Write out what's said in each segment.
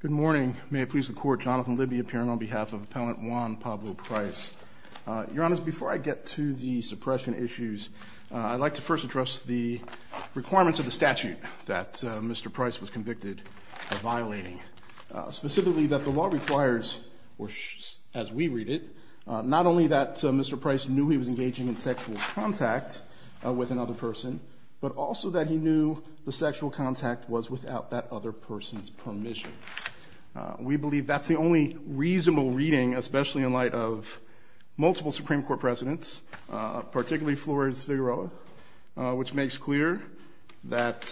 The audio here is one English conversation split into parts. Good morning. May it please the Court, Jonathan Libby appearing on behalf of Appellant Juan Pablo Price. Your Honors, before I get to the suppression issues, I'd like to first address the requirements of the statute that Mr. Price was convicted of violating. Specifically, that the law requires, as we read it, not only that Mr. Price knew he was engaging in sexual contact with another person, but also that he knew the sexual contact was without that other person's permission. We believe that's the only reasonable reading, especially in light of multiple Supreme Court precedents, particularly Flores-Figueroa, which makes clear that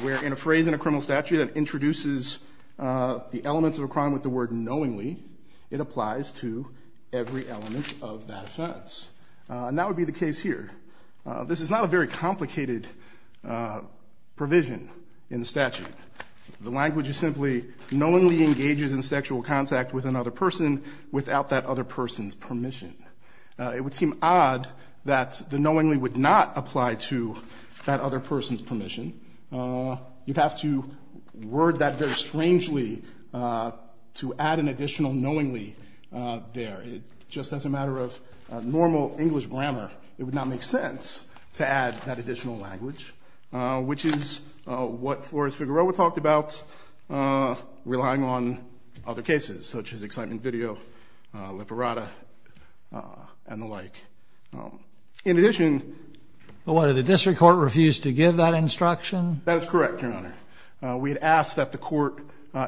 where in a phrase in a criminal statute that introduces the elements of a crime with the word knowingly, it applies to every element of that offense. And that would be the case here. This is not a very complicated provision in the statute. The language is simply knowingly engages in sexual contact with another person without that other person's permission. It would seem odd that the knowingly would not apply to that other person's permission. You'd have to word that very strangely to add an additional knowingly there. Just as a matter of normal English grammar, it would not make sense to add that additional language, which is what Flores-Figueroa talked about relying on other cases, such as excitement video, liberata, and the like. In addition. But what, did the district court refuse to give that instruction? That is correct, Your Honor. We had asked that the court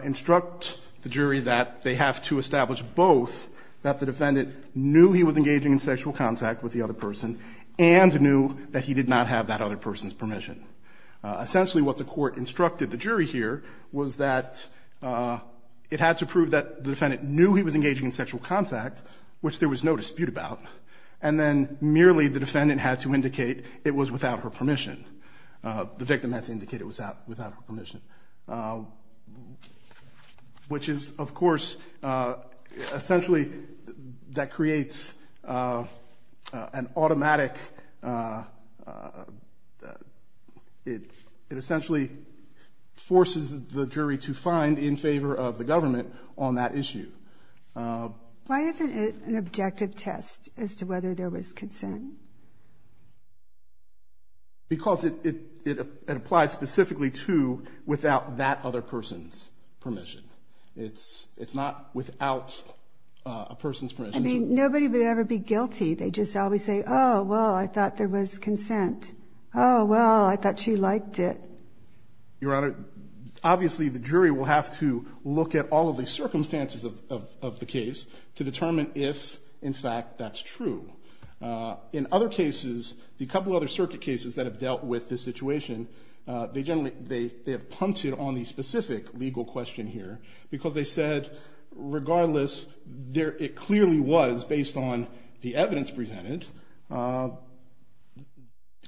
instruct the jury that they have to establish both that the defendant knew he was engaging in sexual contact with the other person and knew that he did not have that other person's permission. Essentially, what the court instructed the jury here was that it had to prove that the defendant knew he was engaging in sexual contact, which there was no dispute about, and then merely the defendant had to indicate it was without her permission. The victim had to indicate it was without her permission, which is, of course, essentially that creates an automatic, it essentially forces the jury to find in favor of the government on that issue. Why isn't it an objective test as to whether there was consent? Because it applies specifically to without that other person's permission. It's not without a person's permission. I mean, nobody would ever be guilty. They just always say, oh, well, I thought there was consent. Oh, well, I thought she liked it. Your Honor, obviously the jury will have to look at all of the circumstances of the case to determine if, in fact, that's true. In other cases, the couple other circuit cases that have dealt with this situation, they generally, they have punted on the specific legal question here, because they said, regardless, it clearly was, based on the evidence presented,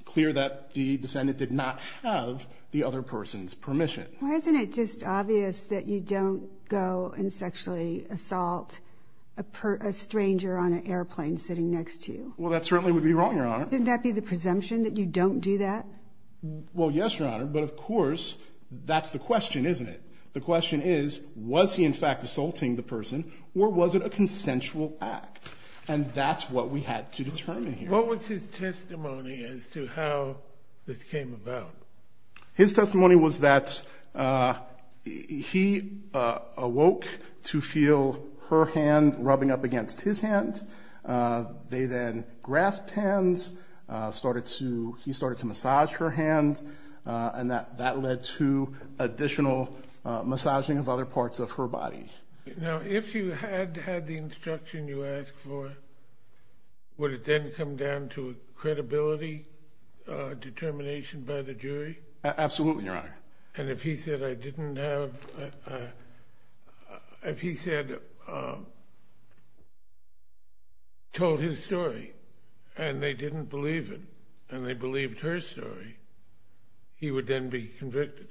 clear that the defendant did not have the other person's permission. Why isn't it just obvious that you don't go and sexually assault a stranger on an airplane sitting next to you? Well, that certainly would be wrong, Your Honor. Wouldn't that be the presumption that you don't do that? Well, yes, Your Honor, but, of course, that's the question, isn't it? The question is, was he, in fact, assaulting the person, or was it a consensual act? And that's what we had to determine here. What was his testimony as to how this came about? His testimony was that he awoke to feel her hand rubbing up against his hand. They then grasped hands, started to, he started to massage her hand, and that led to additional massaging of other parts of her body. Now, if you had had the instruction you asked for, would it then come down to a credibility determination by the jury? Absolutely, Your Honor. And if he said, I didn't have, if he said, told his story, and they didn't believe it, and they believed her story, he would then be convicted?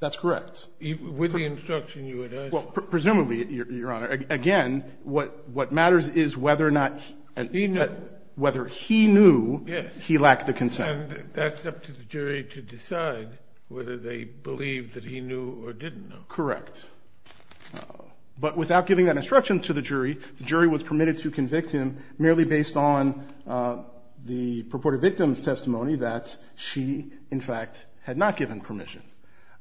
That's correct. With the instruction you had asked for. Well, presumably, Your Honor. Again, what matters is whether or not he knew he lacked the consent. And that's up to the jury to decide whether they believed that he knew or didn't know. Correct. But without giving that instruction to the jury, the jury was permitted to convict him merely based on the purported victim's testimony that she, in fact, had not given permission.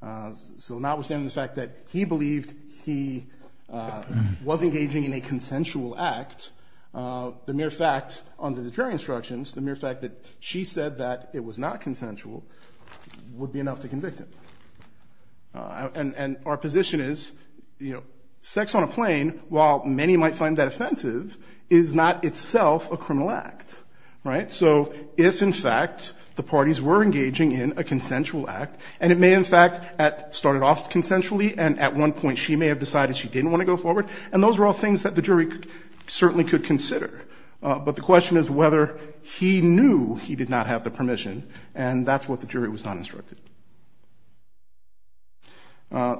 So notwithstanding the fact that he believed he was engaging in a consensual act, the mere fact, under the jury instructions, the mere fact that she said that it was not consensual would be enough to convict him. And our position is, you know, sex on a plane, while many might find that offensive, is not itself a criminal act. Right? So if, in fact, the parties were engaging in a consensual act, and it may, in fact, have started off consensually, and at one point she may have decided she didn't want to go forward, and those were all things that the jury certainly could consider. But the question is whether he knew he did not have the permission, and that's what the jury was not instructed.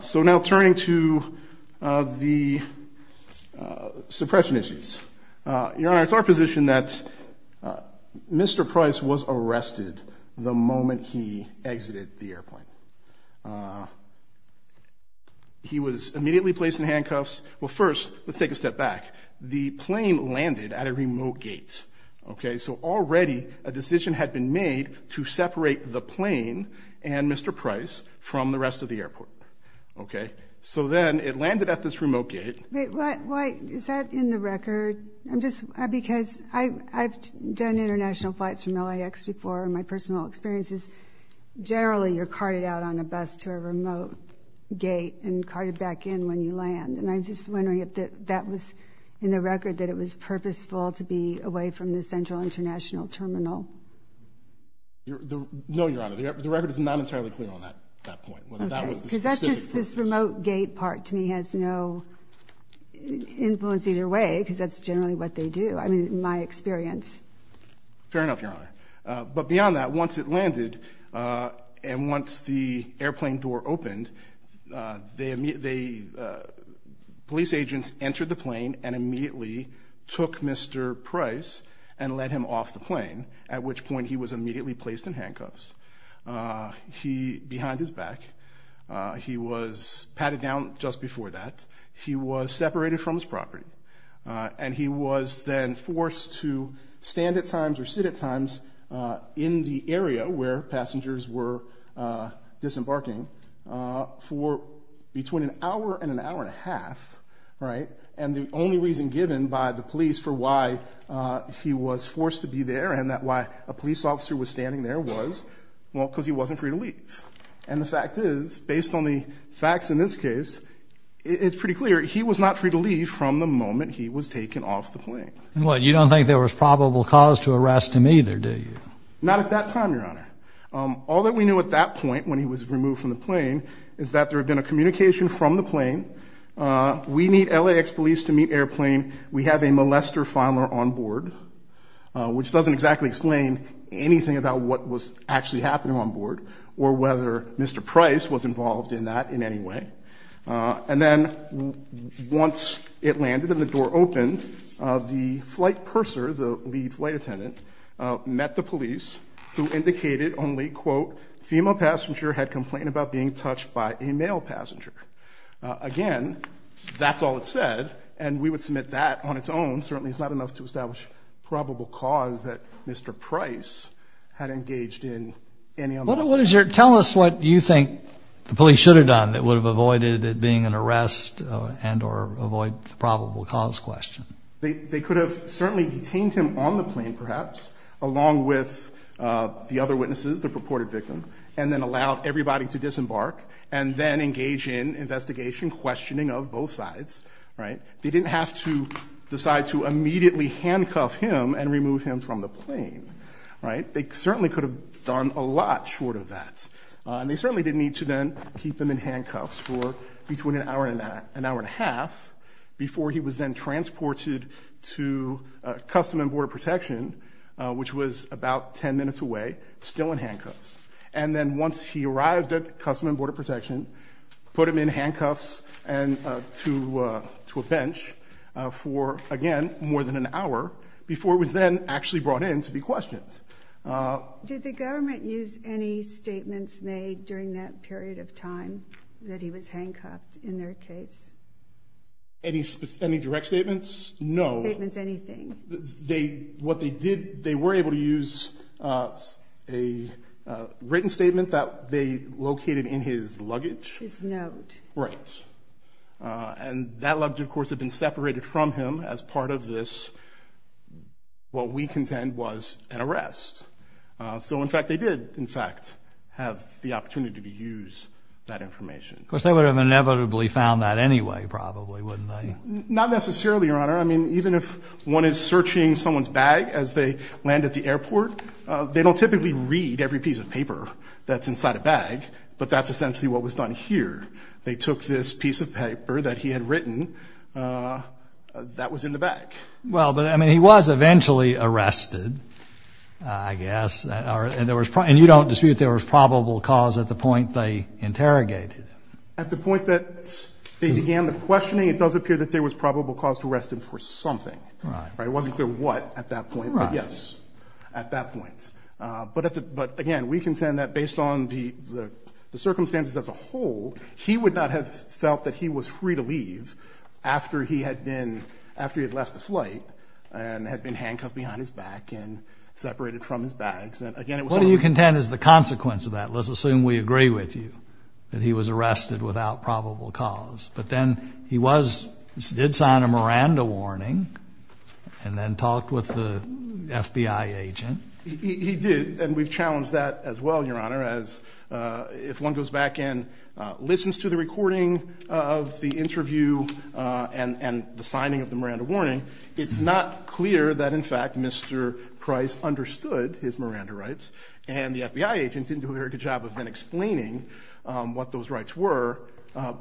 So now turning to the suppression issues. Your Honor, it's our position that Mr. Price was arrested the moment he exited the airplane. He was immediately placed in handcuffs. Well, first, let's take a step back. The plane landed at a remote gate. Okay? So already a decision had been made to separate the plane and Mr. Price from the rest of the airport. Okay? So then it landed at this remote gate. Is that in the record? Because I've done international flights from LAX before, and my personal experience is generally you're carted out on a bus to a remote gate and carted back in when you land. And I'm just wondering if that was in the record, that it was purposeful to be away from the Central International Terminal? No, Your Honor. The record is not entirely clear on that point. Okay. Because that's just this remote gate part to me has no influence either way because that's generally what they do in my experience. Fair enough, Your Honor. But beyond that, once it landed and once the airplane door opened, police agents entered the plane and immediately took Mr. Price and led him off the plane, at which point he was immediately placed in handcuffs. Behind his back. He was patted down just before that. He was separated from his property, and he was then forced to stand at times or sit at times in the area where passengers were disembarking for between an hour and an hour and a half, right? And the only reason given by the police for why he was forced to be there and why a police officer was standing there was because he wasn't free to leave. And the fact is, based on the facts in this case, it's pretty clear he was not free to leave from the moment he was taken off the plane. You don't think there was probable cause to arrest him either, do you? Not at that time, Your Honor. All that we knew at that point when he was removed from the plane is that there had been a communication from the plane, we need LAX police to meet airplane, we have a molester filer on board, which doesn't exactly explain anything about what was actually happening on board or whether Mr. Price was involved in that in any way. And then once it landed and the door opened, the flight purser, the lead flight attendant, met the police who indicated only, quote, female passenger had complained about being touched by a male passenger. Again, that's all it said, and we would submit that on its own. And that certainly is not enough to establish probable cause that Mr. Price had engaged in any other way. Tell us what you think the police should have done that would have avoided it being an arrest and or avoid probable cause question. They could have certainly detained him on the plane, perhaps, along with the other witnesses, the purported victim, and then allowed everybody to disembark and then engage in investigation questioning of both sides. They didn't have to decide to immediately handcuff him and remove him from the plane. They certainly could have done a lot short of that. And they certainly didn't need to then keep him in handcuffs for between an hour and an hour and a half before he was then transported to Customs and Border Protection, which was about 10 minutes away, still in handcuffs. And then once he arrived at Customs and Border Protection, put him in handcuffs and to a bench for, again, more than an hour before he was then actually brought in to be questioned. Did the government use any statements made during that period of time that he was handcuffed in their case? Any direct statements? No. Statements, anything. What they did, they were able to use a written statement that they located in his luggage. His note. Right. And that luggage, of course, had been separated from him as part of this, what we contend, was an arrest. So, in fact, they did, in fact, have the opportunity to use that information. Of course, they would have inevitably found that anyway, probably, wouldn't they? Not necessarily, Your Honor. I mean, even if one is searching someone's bag as they land at the airport, they don't typically read every piece of paper that's inside a bag, but that's essentially what was done here. They took this piece of paper that he had written that was in the bag. Well, but, I mean, he was eventually arrested, I guess. And you don't dispute there was probable cause at the point they interrogated him? At the point that they began the questioning, it does appear that there was probable cause to arrest him for something. Right. It wasn't clear what at that point. Right. Yes. At that point. But, again, we contend that based on the circumstances as a whole, he would not have felt that he was free to leave after he had been, after he had left the flight and had been handcuffed behind his back and separated from his bags. And, again, it was... What do you contend is the consequence of that? Let's assume we agree with you that he was arrested without probable cause. But then he was, did sign a Miranda warning and then talked with the FBI agent. He did, and we've challenged that as well, Your Honor, as if one goes back and listens to the recording of the interview and the signing of the Miranda warning, it's not clear that, in fact, Mr. Price understood his Miranda rights and the FBI agent didn't do a very good job of then explaining what those rights were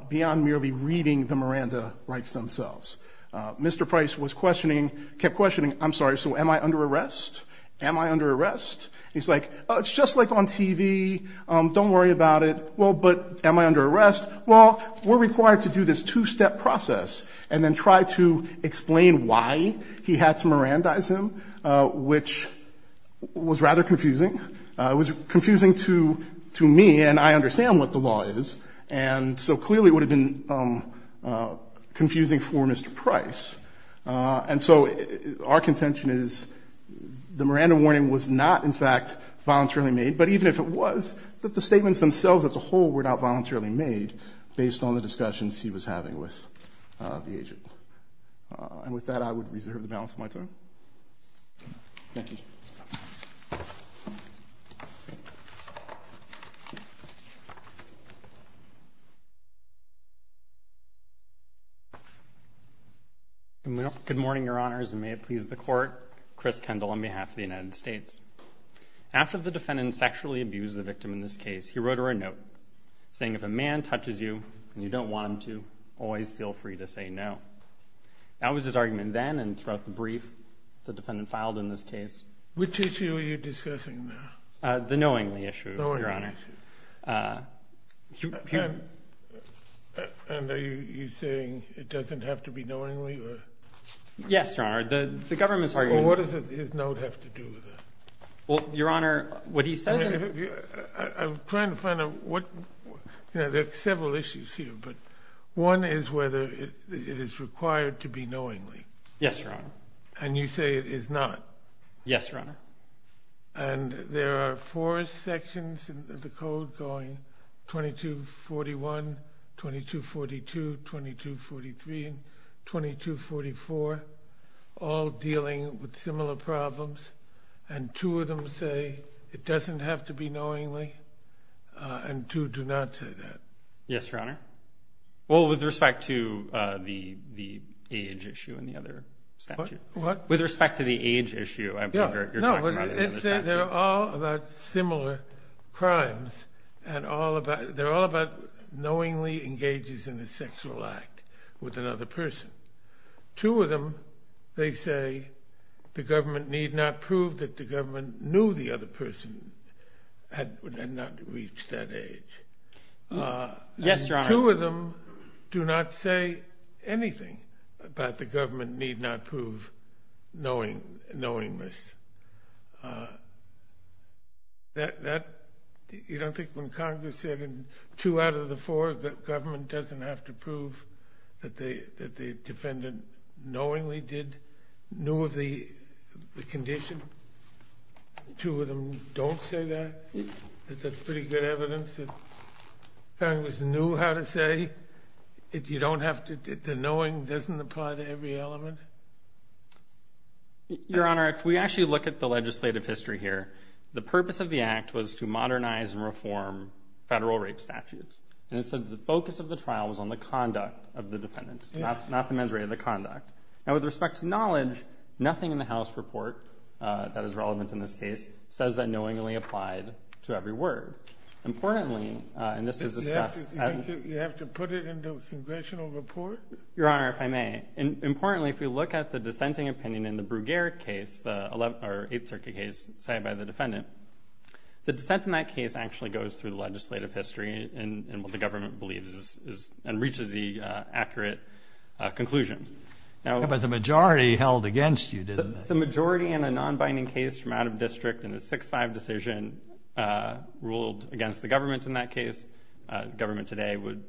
beyond merely reading the Miranda rights themselves. Mr. Price was questioning, kept questioning, I'm sorry, so am I under arrest? Am I under arrest? He's like, oh, it's just like on TV. Don't worry about it. Well, but am I under arrest? Well, we're required to do this two-step process and then try to explain why he had to Mirandize him, which was rather confusing. It was confusing to me, and I understand what the law is. And so clearly it would have been confusing for Mr. Price. And so our contention is the Miranda warning was not, in fact, voluntarily made, but even if it was, the statements themselves as a whole were not voluntarily made based on the discussions he was having with the agent. And with that, I would reserve the balance of my time. Thank you. Good morning, Your Honors, and may it please the Court. Chris Kendall on behalf of the United States. After the defendant sexually abused the victim in this case, he wrote her a note, saying if a man touches you and you don't want him to, always feel free to say no. That was his argument then, and throughout the brief the defendant filed in this case. Which issue are you discussing now? The knowingly issue, Your Honor. The knowingly issue. And are you saying it doesn't have to be knowingly? Yes, Your Honor, the government's arguing. Well, what does his note have to do with that? Well, Your Honor, what he says is... I'm trying to find out what... You know, there are several issues here, but one is whether it is required to be knowingly. Yes, Your Honor. And you say it is not. Yes, Your Honor. And there are four sections in the code going 2241, 2242, 2243, and 2244, all dealing with similar problems. And two of them say it doesn't have to be knowingly, and two do not say that. Yes, Your Honor. Well, with respect to the age issue in the other statute. What? With respect to the age issue. You're talking about another statute. No, but they're all about similar crimes, and they're all about knowingly engages in a sexual act with another person. Two of them, they say the government need not prove that the government knew the other person had not reached that age. Yes, Your Honor. Two of them do not say anything about the government need not prove knowingly. You don't think when Congress said two out of the four, the government doesn't have to prove that the defendant knowingly knew the condition? Two of them don't say that? No. That's pretty good evidence that Congress knew how to say that the knowing doesn't apply to every element? Your Honor, if we actually look at the legislative history here, the purpose of the Act was to modernize and reform federal rape statutes, and it said the focus of the trial was on the conduct of the defendant, not the measure of the conduct. Now, with respect to knowledge, nothing in the House report that is relevant in this case says that knowingly applied to every word. Importantly, and this is discussed. You have to put it in the congressional report? Your Honor, if I may. Importantly, if we look at the dissenting opinion in the Brugere case, the 8th Circuit case cited by the defendant, the dissent in that case actually goes through the legislative history and what the government believes and reaches the accurate conclusion. But the majority held against you, didn't they? If the majority in a non-binding case from out of district in a 6-5 decision ruled against the government in that case, government today would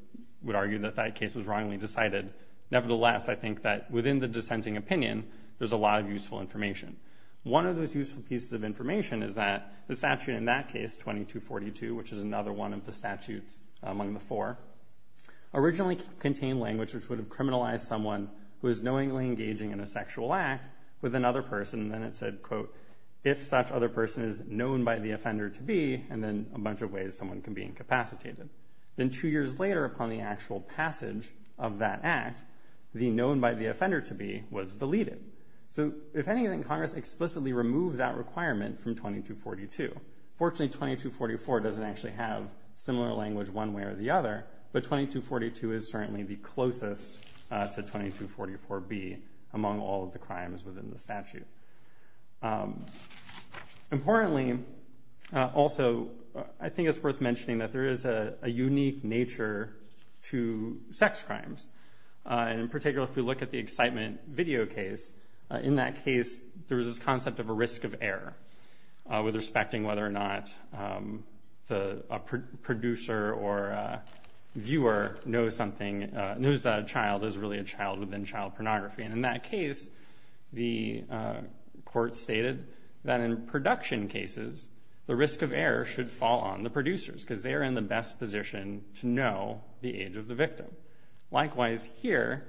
argue that that case was wrongly decided. Nevertheless, I think that within the dissenting opinion, there's a lot of useful information. One of those useful pieces of information is that the statute in that case, 2242, which is another one of the statutes among the four, originally contained language which would have criminalized someone who is knowingly engaging in a sexual act with another person. Then it said, quote, if such other person is known by the offender to be, and then a bunch of ways someone can be incapacitated. Then two years later, upon the actual passage of that act, the known by the offender to be was deleted. So if anything, Congress explicitly removed that requirement from 2242. Fortunately, 2244 doesn't actually have similar language one way or the other, but 2242 is certainly the closest to 2244B among all of the crimes within the statute. Importantly, also, I think it's worth mentioning that there is a unique nature to sex crimes. In particular, if we look at the excitement video case, in that case, there was this concept of a risk of error with respecting whether or not a producer or viewer knows that a child is really a child within child pornography. In that case, the court stated that in production cases, the risk of error should fall on the producers because they are in the best position to know the age of the victim. Likewise, here,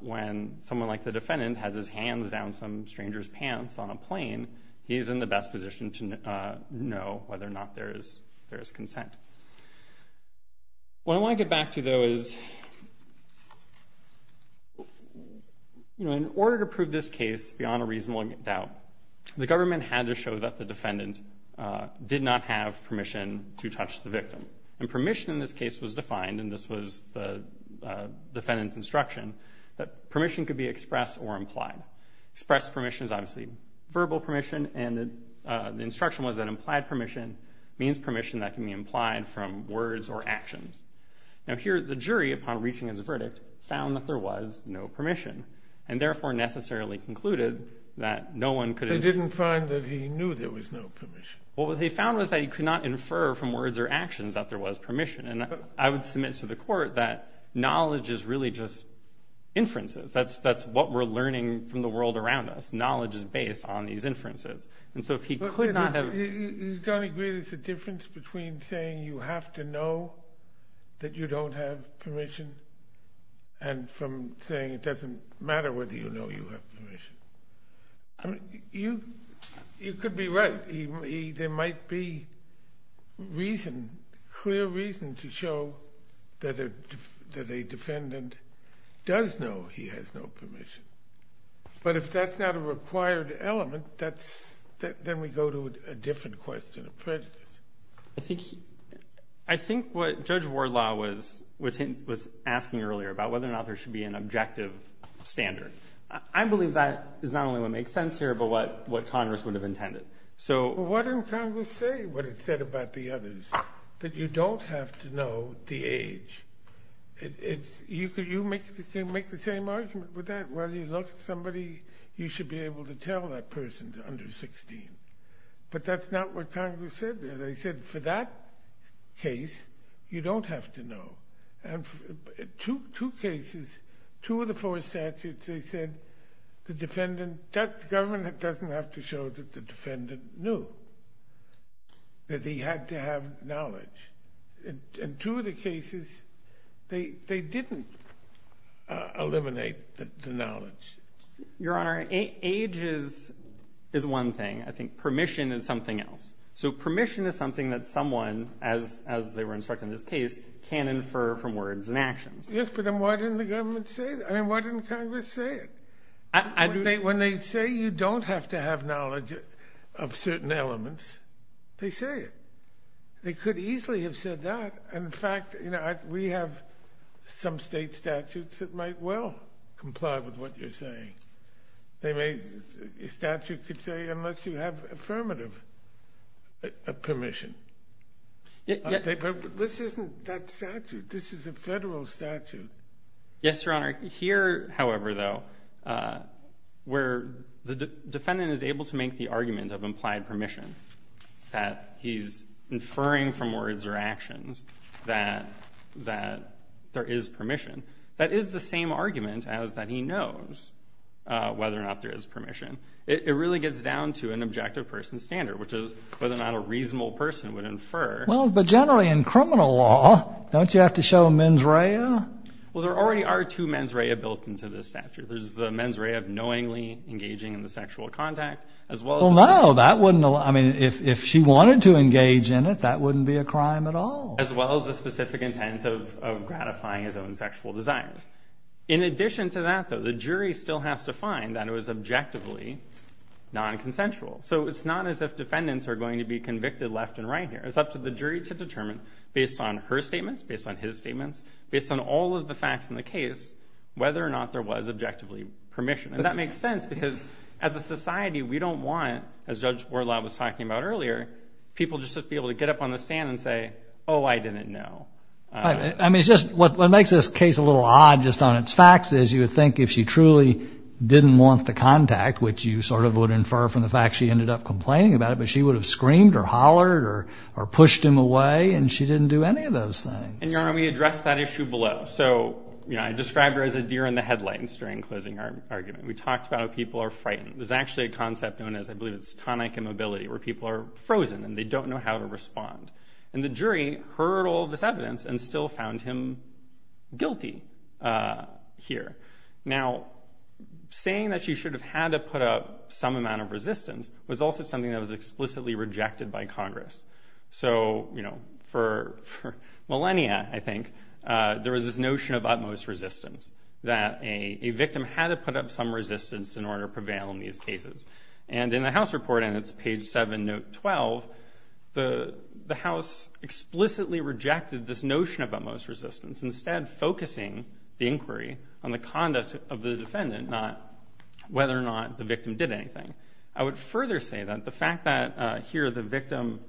when someone like the defendant has his hands down some stranger's pants on a plane, he is in the best position to know whether or not there is consent. What I want to get back to, though, is, in order to prove this case beyond a reasonable doubt, the government had to show that the defendant did not have permission to touch the victim. And permission in this case was defined, and this was the defendant's instruction, that permission could be expressed or implied. Expressed permission is obviously verbal permission, and the instruction was that implied permission means permission that can be implied from words or actions. Now, here, the jury, upon reaching its verdict, found that there was no permission, and therefore necessarily concluded that no one could have... They didn't find that he knew there was no permission. What they found was that he could not infer from words or actions that there was permission, and I would submit to the court that knowledge is really just inferences. That's what we're learning from the world around us. Knowledge is based on these inferences. And so if he could not have... You don't agree there's a difference between saying you have to know that you don't have permission and from saying it doesn't matter whether you know you have permission? You could be right. There might be reason, clear reason, to show that a defendant does know he has no permission. But if that's not a required element, then we go to a different question of prejudice. I think what Judge Wardlaw was asking earlier about whether or not there should be an objective standard, I believe that is not only what makes sense here but what Congress would have intended. Well, what did Congress say? It said what it said about the others, that you don't have to know the age. You can make the same argument with that. Whether you look at somebody, you should be able to tell that person they're under 16. But that's not what Congress said there. They said for that case, you don't have to know. And two cases, two of the four statutes, they said the government doesn't have to show that the defendant knew. That he had to have knowledge. And two of the cases, they didn't eliminate the knowledge. Your Honor, age is one thing. I think permission is something else. So permission is something that someone, as they were instructed in this case, can infer from words and actions. Yes, but then why didn't the government say that? I mean, why didn't Congress say it? When they say you don't have to have knowledge of certain elements, they say it. They could easily have said that. In fact, we have some state statutes that might well comply with what you're saying. A statute could say unless you have affirmative permission. But this isn't that statute. This is a federal statute. Yes, Your Honor. Here, however, though, where the defendant is able to make the argument of implied permission, that he's inferring from words or actions that there is permission, that is the same argument as that he knows whether or not there is permission. It really gets down to an objective person's standard, which is whether or not a reasonable person would infer. Well, but generally in criminal law, don't you have to show mens rea? Well, there already are two mens rea built into this statute. There's the mens rea of knowingly engaging in the sexual contact, as well as the specific intent of gratifying his own sexual desires. In addition to that, though, the jury still has to find that it was objectively nonconsensual. So it's not as if defendants are going to be convicted left and right here. It's up to the jury to determine based on her statements, based on his statements, based on all of the facts in the case, whether or not there was objectively permission. And that makes sense because as a society, we don't want, as Judge Wardlaw was talking about earlier, people just to be able to get up on the stand and say, oh, I didn't know. I mean, it's just what makes this case a little odd just on its facts is you would think if she truly didn't want the contact, which you sort of would infer from the fact she ended up complaining about it, but she would have screamed or hollered or pushed him away, and she didn't do any of those things. And we addressed that issue below. So I described her as a deer in the headlights during closing argument. We talked about how people are frightened. There's actually a concept known as, I believe it's tonic immobility, where people are frozen and they don't know how to respond. And the jury heard all this evidence and still found him guilty here. Now, saying that she should have had to put up some amount of resistance was also something that was explicitly rejected by Congress. So, you know, for millennia, I think, there was this notion of utmost resistance, that a victim had to put up some resistance in order to prevail in these cases. And in the House report, and it's page 7, note 12, the House explicitly rejected this notion of utmost resistance, instead focusing the inquiry on the conduct of the defendant, not whether or not the victim did anything. I would further say that the fact that here the victim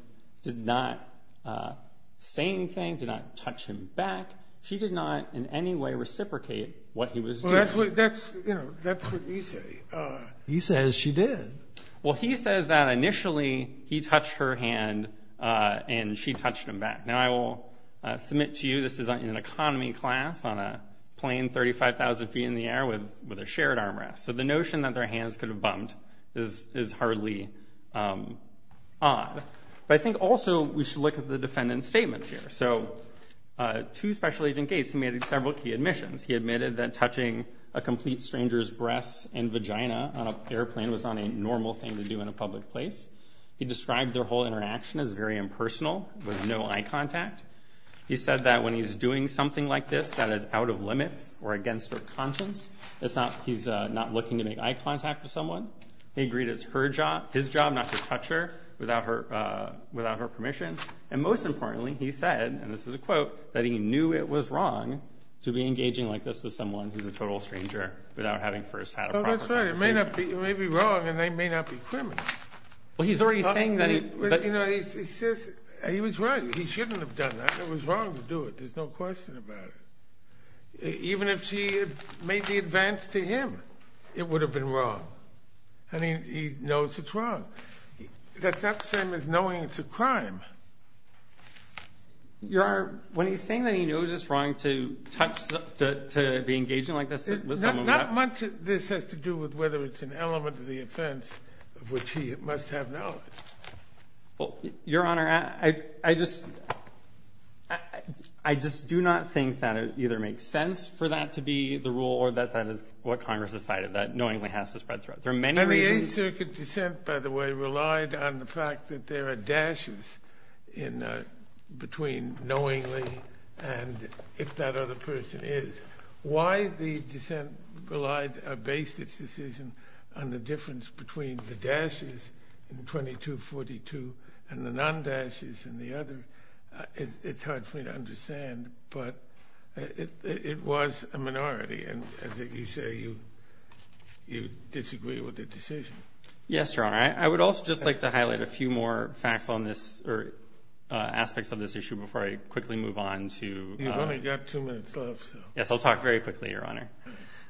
did not say anything, did not touch him back, she did not in any way reciprocate what he was doing. Well, that's what you say. He says she did. Well, he says that initially he touched her hand and she touched him back. Now, I will submit to you this is in an economy class on a plane 35,000 feet in the air with a shared armrest. So the notion that their hands could have bumped is hardly odd. But I think also we should look at the defendant's statements here. So to Special Agent Gates, he made several key admissions. He admitted that touching a complete stranger's breasts and vagina on an airplane was not a normal thing to do in a public place. He described their whole interaction as very impersonal, with no eye contact. He said that when he's doing something like this that is out of limits or against her conscience, he's not looking to make eye contact with someone. He agreed it's his job not to touch her without her permission. And most importantly, he said, and this is a quote, that he knew it was wrong to be engaging like this with someone who's a total stranger without having first had a proper conversation. Well, that's right. It may be wrong and they may not be criminals. Well, he's already saying that. He was right. He shouldn't have done that. It was wrong to do it. There's no question about it. Even if she had made the advance to him, it would have been wrong. I mean, he knows it's wrong. That's not the same as knowing it's a crime. Your Honor, when he's saying that he knows it's wrong to touch, to be engaging like this with someone. Not much of this has to do with whether it's an element of the offense of which he must have knowledge. Well, Your Honor, I just do not think that it either makes sense for that to be the rule or that that is what Congress decided, that knowingly has to spread throughout. There are many reasons. Every Eighth Circuit dissent, by the way, relied on the fact that there are dashes between knowingly and if that other person is. Why the dissent relied, based its decision on the difference between the dashes in 2242 and the non-dashes in the other, it's hard for me to understand. But it was a minority. And as you say, you disagree with the decision. Yes, Your Honor. I would also just like to highlight a few more facts on this or aspects of this issue before I quickly move on to. You've only got two minutes left. Yes, I'll talk very quickly, Your Honor.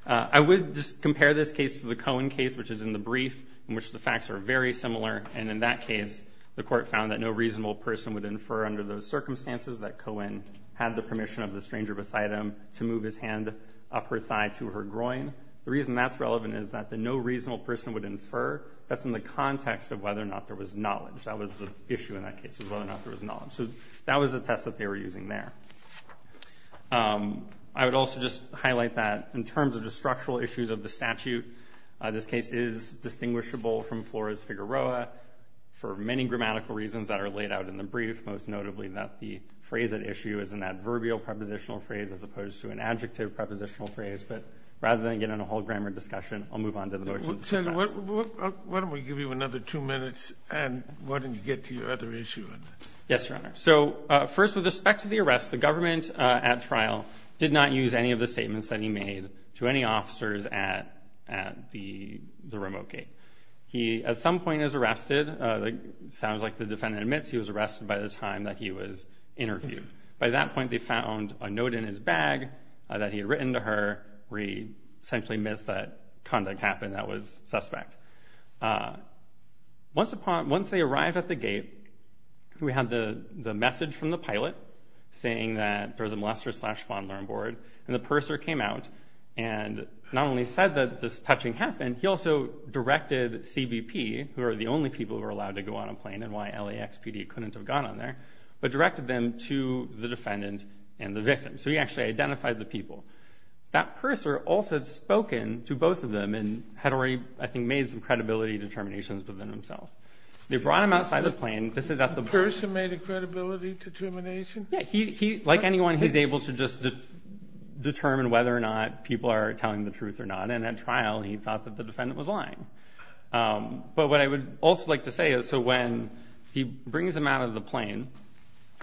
I would just compare this case to the Cohen case, which is in the brief, in which the facts are very similar. And in that case, the court found that no reasonable person would infer under those circumstances that Cohen had the permission of the stranger beside him to move his hand up her thigh to her groin. The reason that's relevant is that the no reasonable person would infer, that's in the context of whether or not there was knowledge. That was the issue in that case, was whether or not there was knowledge. So that was a test that they were using there. I would also just highlight that in terms of the structural issues of the statute, this case is distinguishable from Flores-Figueroa for many grammatical reasons that are laid out in the brief, most notably that the phrase at issue is an adverbial prepositional phrase as opposed to an adjective prepositional phrase. But rather than get in a whole grammar discussion, I'll move on to the motion. Senator, why don't we give you another two minutes, and why don't you get to your other issue? Yes, Your Honor. So first, with respect to the arrest, the government at trial did not use any of the statements that he made to any officers at the remote gate. He at some point is arrested. It sounds like the defendant admits he was arrested by the time that he was interviewed. By that point, they found a note in his bag that he had written to her where he essentially admits that conduct happened that was suspect. Once they arrived at the gate, we had the message from the pilot saying that there was a molester-slash-fondler on board, and the purser came out and not only said that this touching happened, he also directed CBP, who are the only people who are allowed to go on a plane and why LAXPD couldn't have gone on there, but directed them to the defendant and the victim. So he actually identified the people. That purser also had spoken to both of them and had already, I think, made some credibility determinations within himself. They brought him outside the plane. The purser made a credibility determination? Yes. Like anyone, he's able to just determine whether or not people are telling the truth or not, and at trial, he thought that the defendant was lying. But what I would also like to say is so when he brings him out of the plane,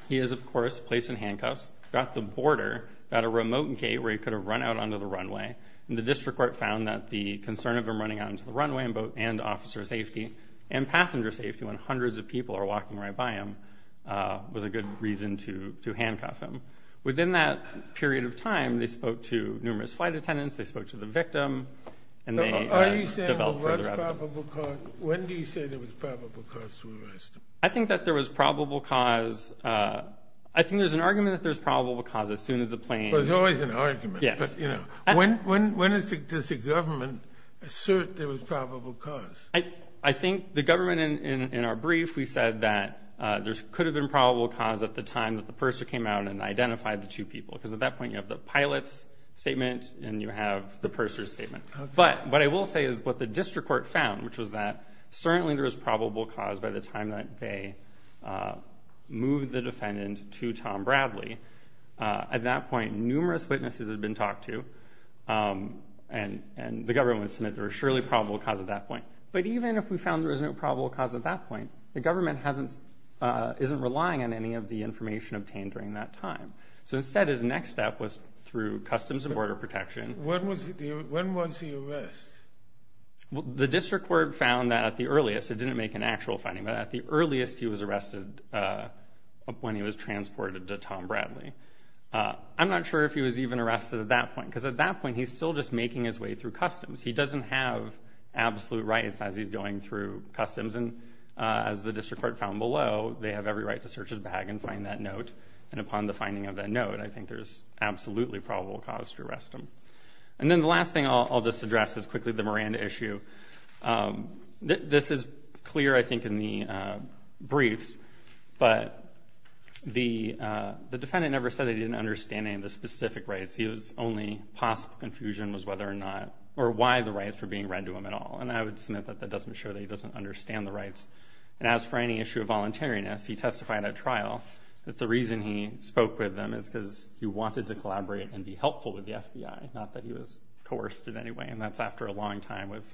he is, of course, placed in handcuffs. He's got the border, got a remote gate where he could have run out onto the runway, and the district court found that the concern of him running out onto the runway and officer safety and passenger safety when hundreds of people are walking right by him was a good reason to handcuff him. Within that period of time, they spoke to numerous flight attendants. They spoke to the victim. Are you saying there was probable cause? When do you say there was probable cause to arrest him? I think that there was probable cause. I think there's an argument that there's probable cause as soon as the plane. There's always an argument. Yes. When does the government assert there was probable cause? I think the government in our brief, we said that there could have been probable cause at the time that the purser came out and identified the two people because at that point you have the pilot's statement and you have the purser's statement. Okay. But what I will say is what the district court found, which was that certainly there was probable cause by the time that they moved the defendant to Tom Bradley. At that point, numerous witnesses had been talked to, and the government would submit there was surely probable cause at that point. But even if we found there was no probable cause at that point, the government isn't relying on any of the information obtained during that time. So instead, his next step was through customs and border protection. When was he arrested? The district court found that at the earliest, it didn't make an actual finding, but at the earliest he was arrested when he was transported to Tom Bradley. I'm not sure if he was even arrested at that point because at that point he's still just making his way through customs. He doesn't have absolute rights as he's going through customs. And as the district court found below, they have every right to search his bag and find that note. And upon the finding of that note, I think there's absolutely probable cause to arrest him. And then the last thing I'll just address is quickly the Miranda issue. This is clear, I think, in the briefs, but the defendant never said he didn't understand any of the specific rights. His only possible confusion was whether or not or why the rights were being read to him at all. And I would submit that that doesn't show that he doesn't understand the rights. And as for any issue of voluntariness, he testified at trial that the reason he spoke with them is because he wanted to collaborate and be helpful with the FBI, not that he was coerced in any way. And that's after a long time of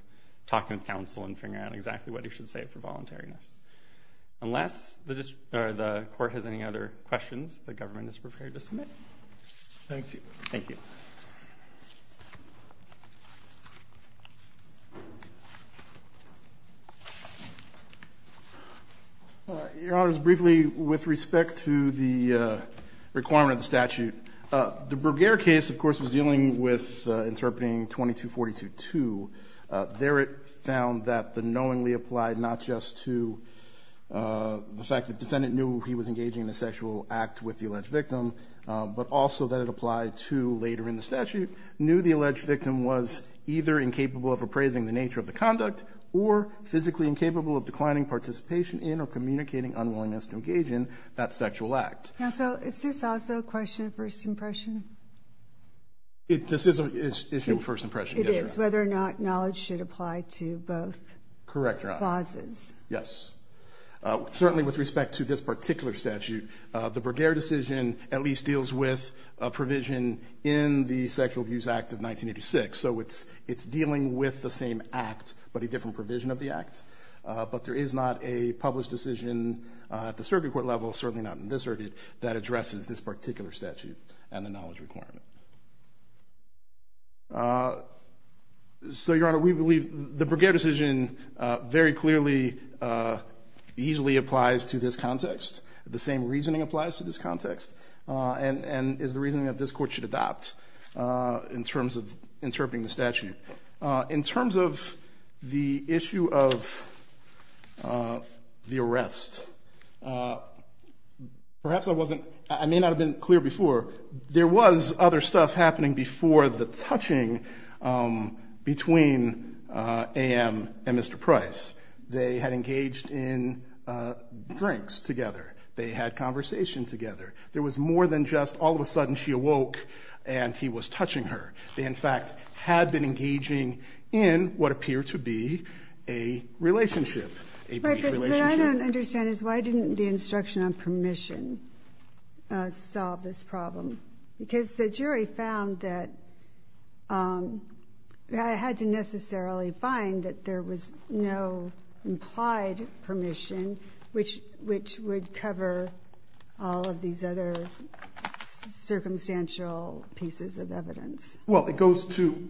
talking to counsel and figuring out exactly what he should say for voluntariness. Unless the court has any other questions, the government is prepared to submit. Thank you. Thank you. Your Honor, just briefly with respect to the requirement of the statute, the Bergere case, of course, was dealing with interpreting 2242-2. There it found that the knowingly applied not just to the fact that the defendant knew he was engaging in a sexual act with the alleged victim, but also that it applied to later in the statute, knew the alleged victim was either incapable of appraising the nature of the conduct or physically incapable of declining participation in or communicating unwillingness to engage in that sexual act. Counsel, is this also a question of first impression? This is an issue of first impression, yes, Your Honor. It is, whether or not knowledge should apply to both causes. Correct, Your Honor. Yes. Certainly with respect to this particular statute, the Bergere decision at least deals with a provision in the Sexual Abuse Act of 1986. So it's dealing with the same act, but a different provision of the act. But there is not a published decision at the circuit court level, certainly not in this circuit, that addresses this particular statute and the knowledge requirement. So, Your Honor, we believe the Bergere decision very clearly, easily applies to this context. The same reasoning applies to this context and is the reasoning that this Court should adopt in terms of interpreting the statute. In terms of the issue of the arrest, perhaps I wasn't, I may not have been clear before. There was other stuff happening before the touching between A.M. and Mr. Price. They had engaged in drinks together. They had conversation together. There was more than just all of a sudden she awoke and he was touching her. They, in fact, had been engaging in what appeared to be a relationship, a brief relationship. But what I don't understand is why didn't the instruction on permission solve this problem? Because the jury found that it had to necessarily find that there was no implied permission which would cover all of these other circumstantial pieces of evidence. Well, it goes to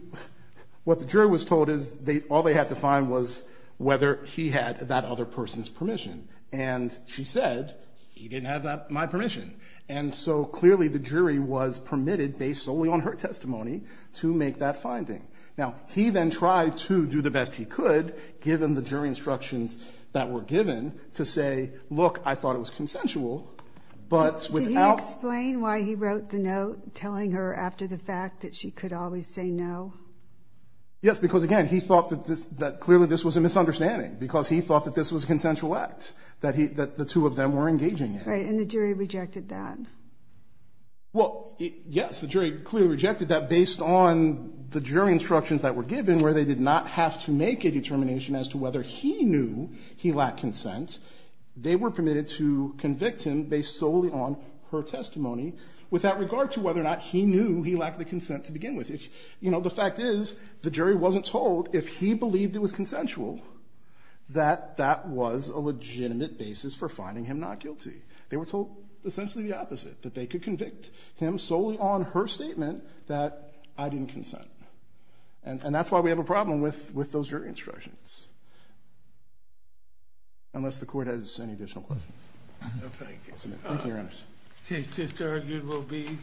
what the jury was told is all they had to find was whether he had that other person's permission. And she said he didn't have my permission. And so clearly the jury was permitted, based solely on her testimony, to make that finding. Now, he then tried to do the best he could, given the jury instructions that were given, to say, look, I thought it was consensual, but without ‑‑ Did he explain why he wrote the note telling her after the fact that she could always say no? Yes, because, again, he thought that clearly this was a misunderstanding because he thought that this was a consensual act that the two of them were engaging in. Right, and the jury rejected that. Well, yes, the jury clearly rejected that based on the jury instructions that were given where they did not have to make a determination as to whether he knew he lacked consent. They were permitted to convict him based solely on her testimony, without regard to whether or not he knew he lacked the consent to begin with. You know, the fact is the jury wasn't told, if he believed it was consensual, that that was a legitimate basis for finding him not guilty. They were told essentially the opposite, that they could convict him solely on her statement that I didn't consent. And that's why we have a problem with those jury instructions. Unless the Court has any additional questions. Thank you, Your Honor.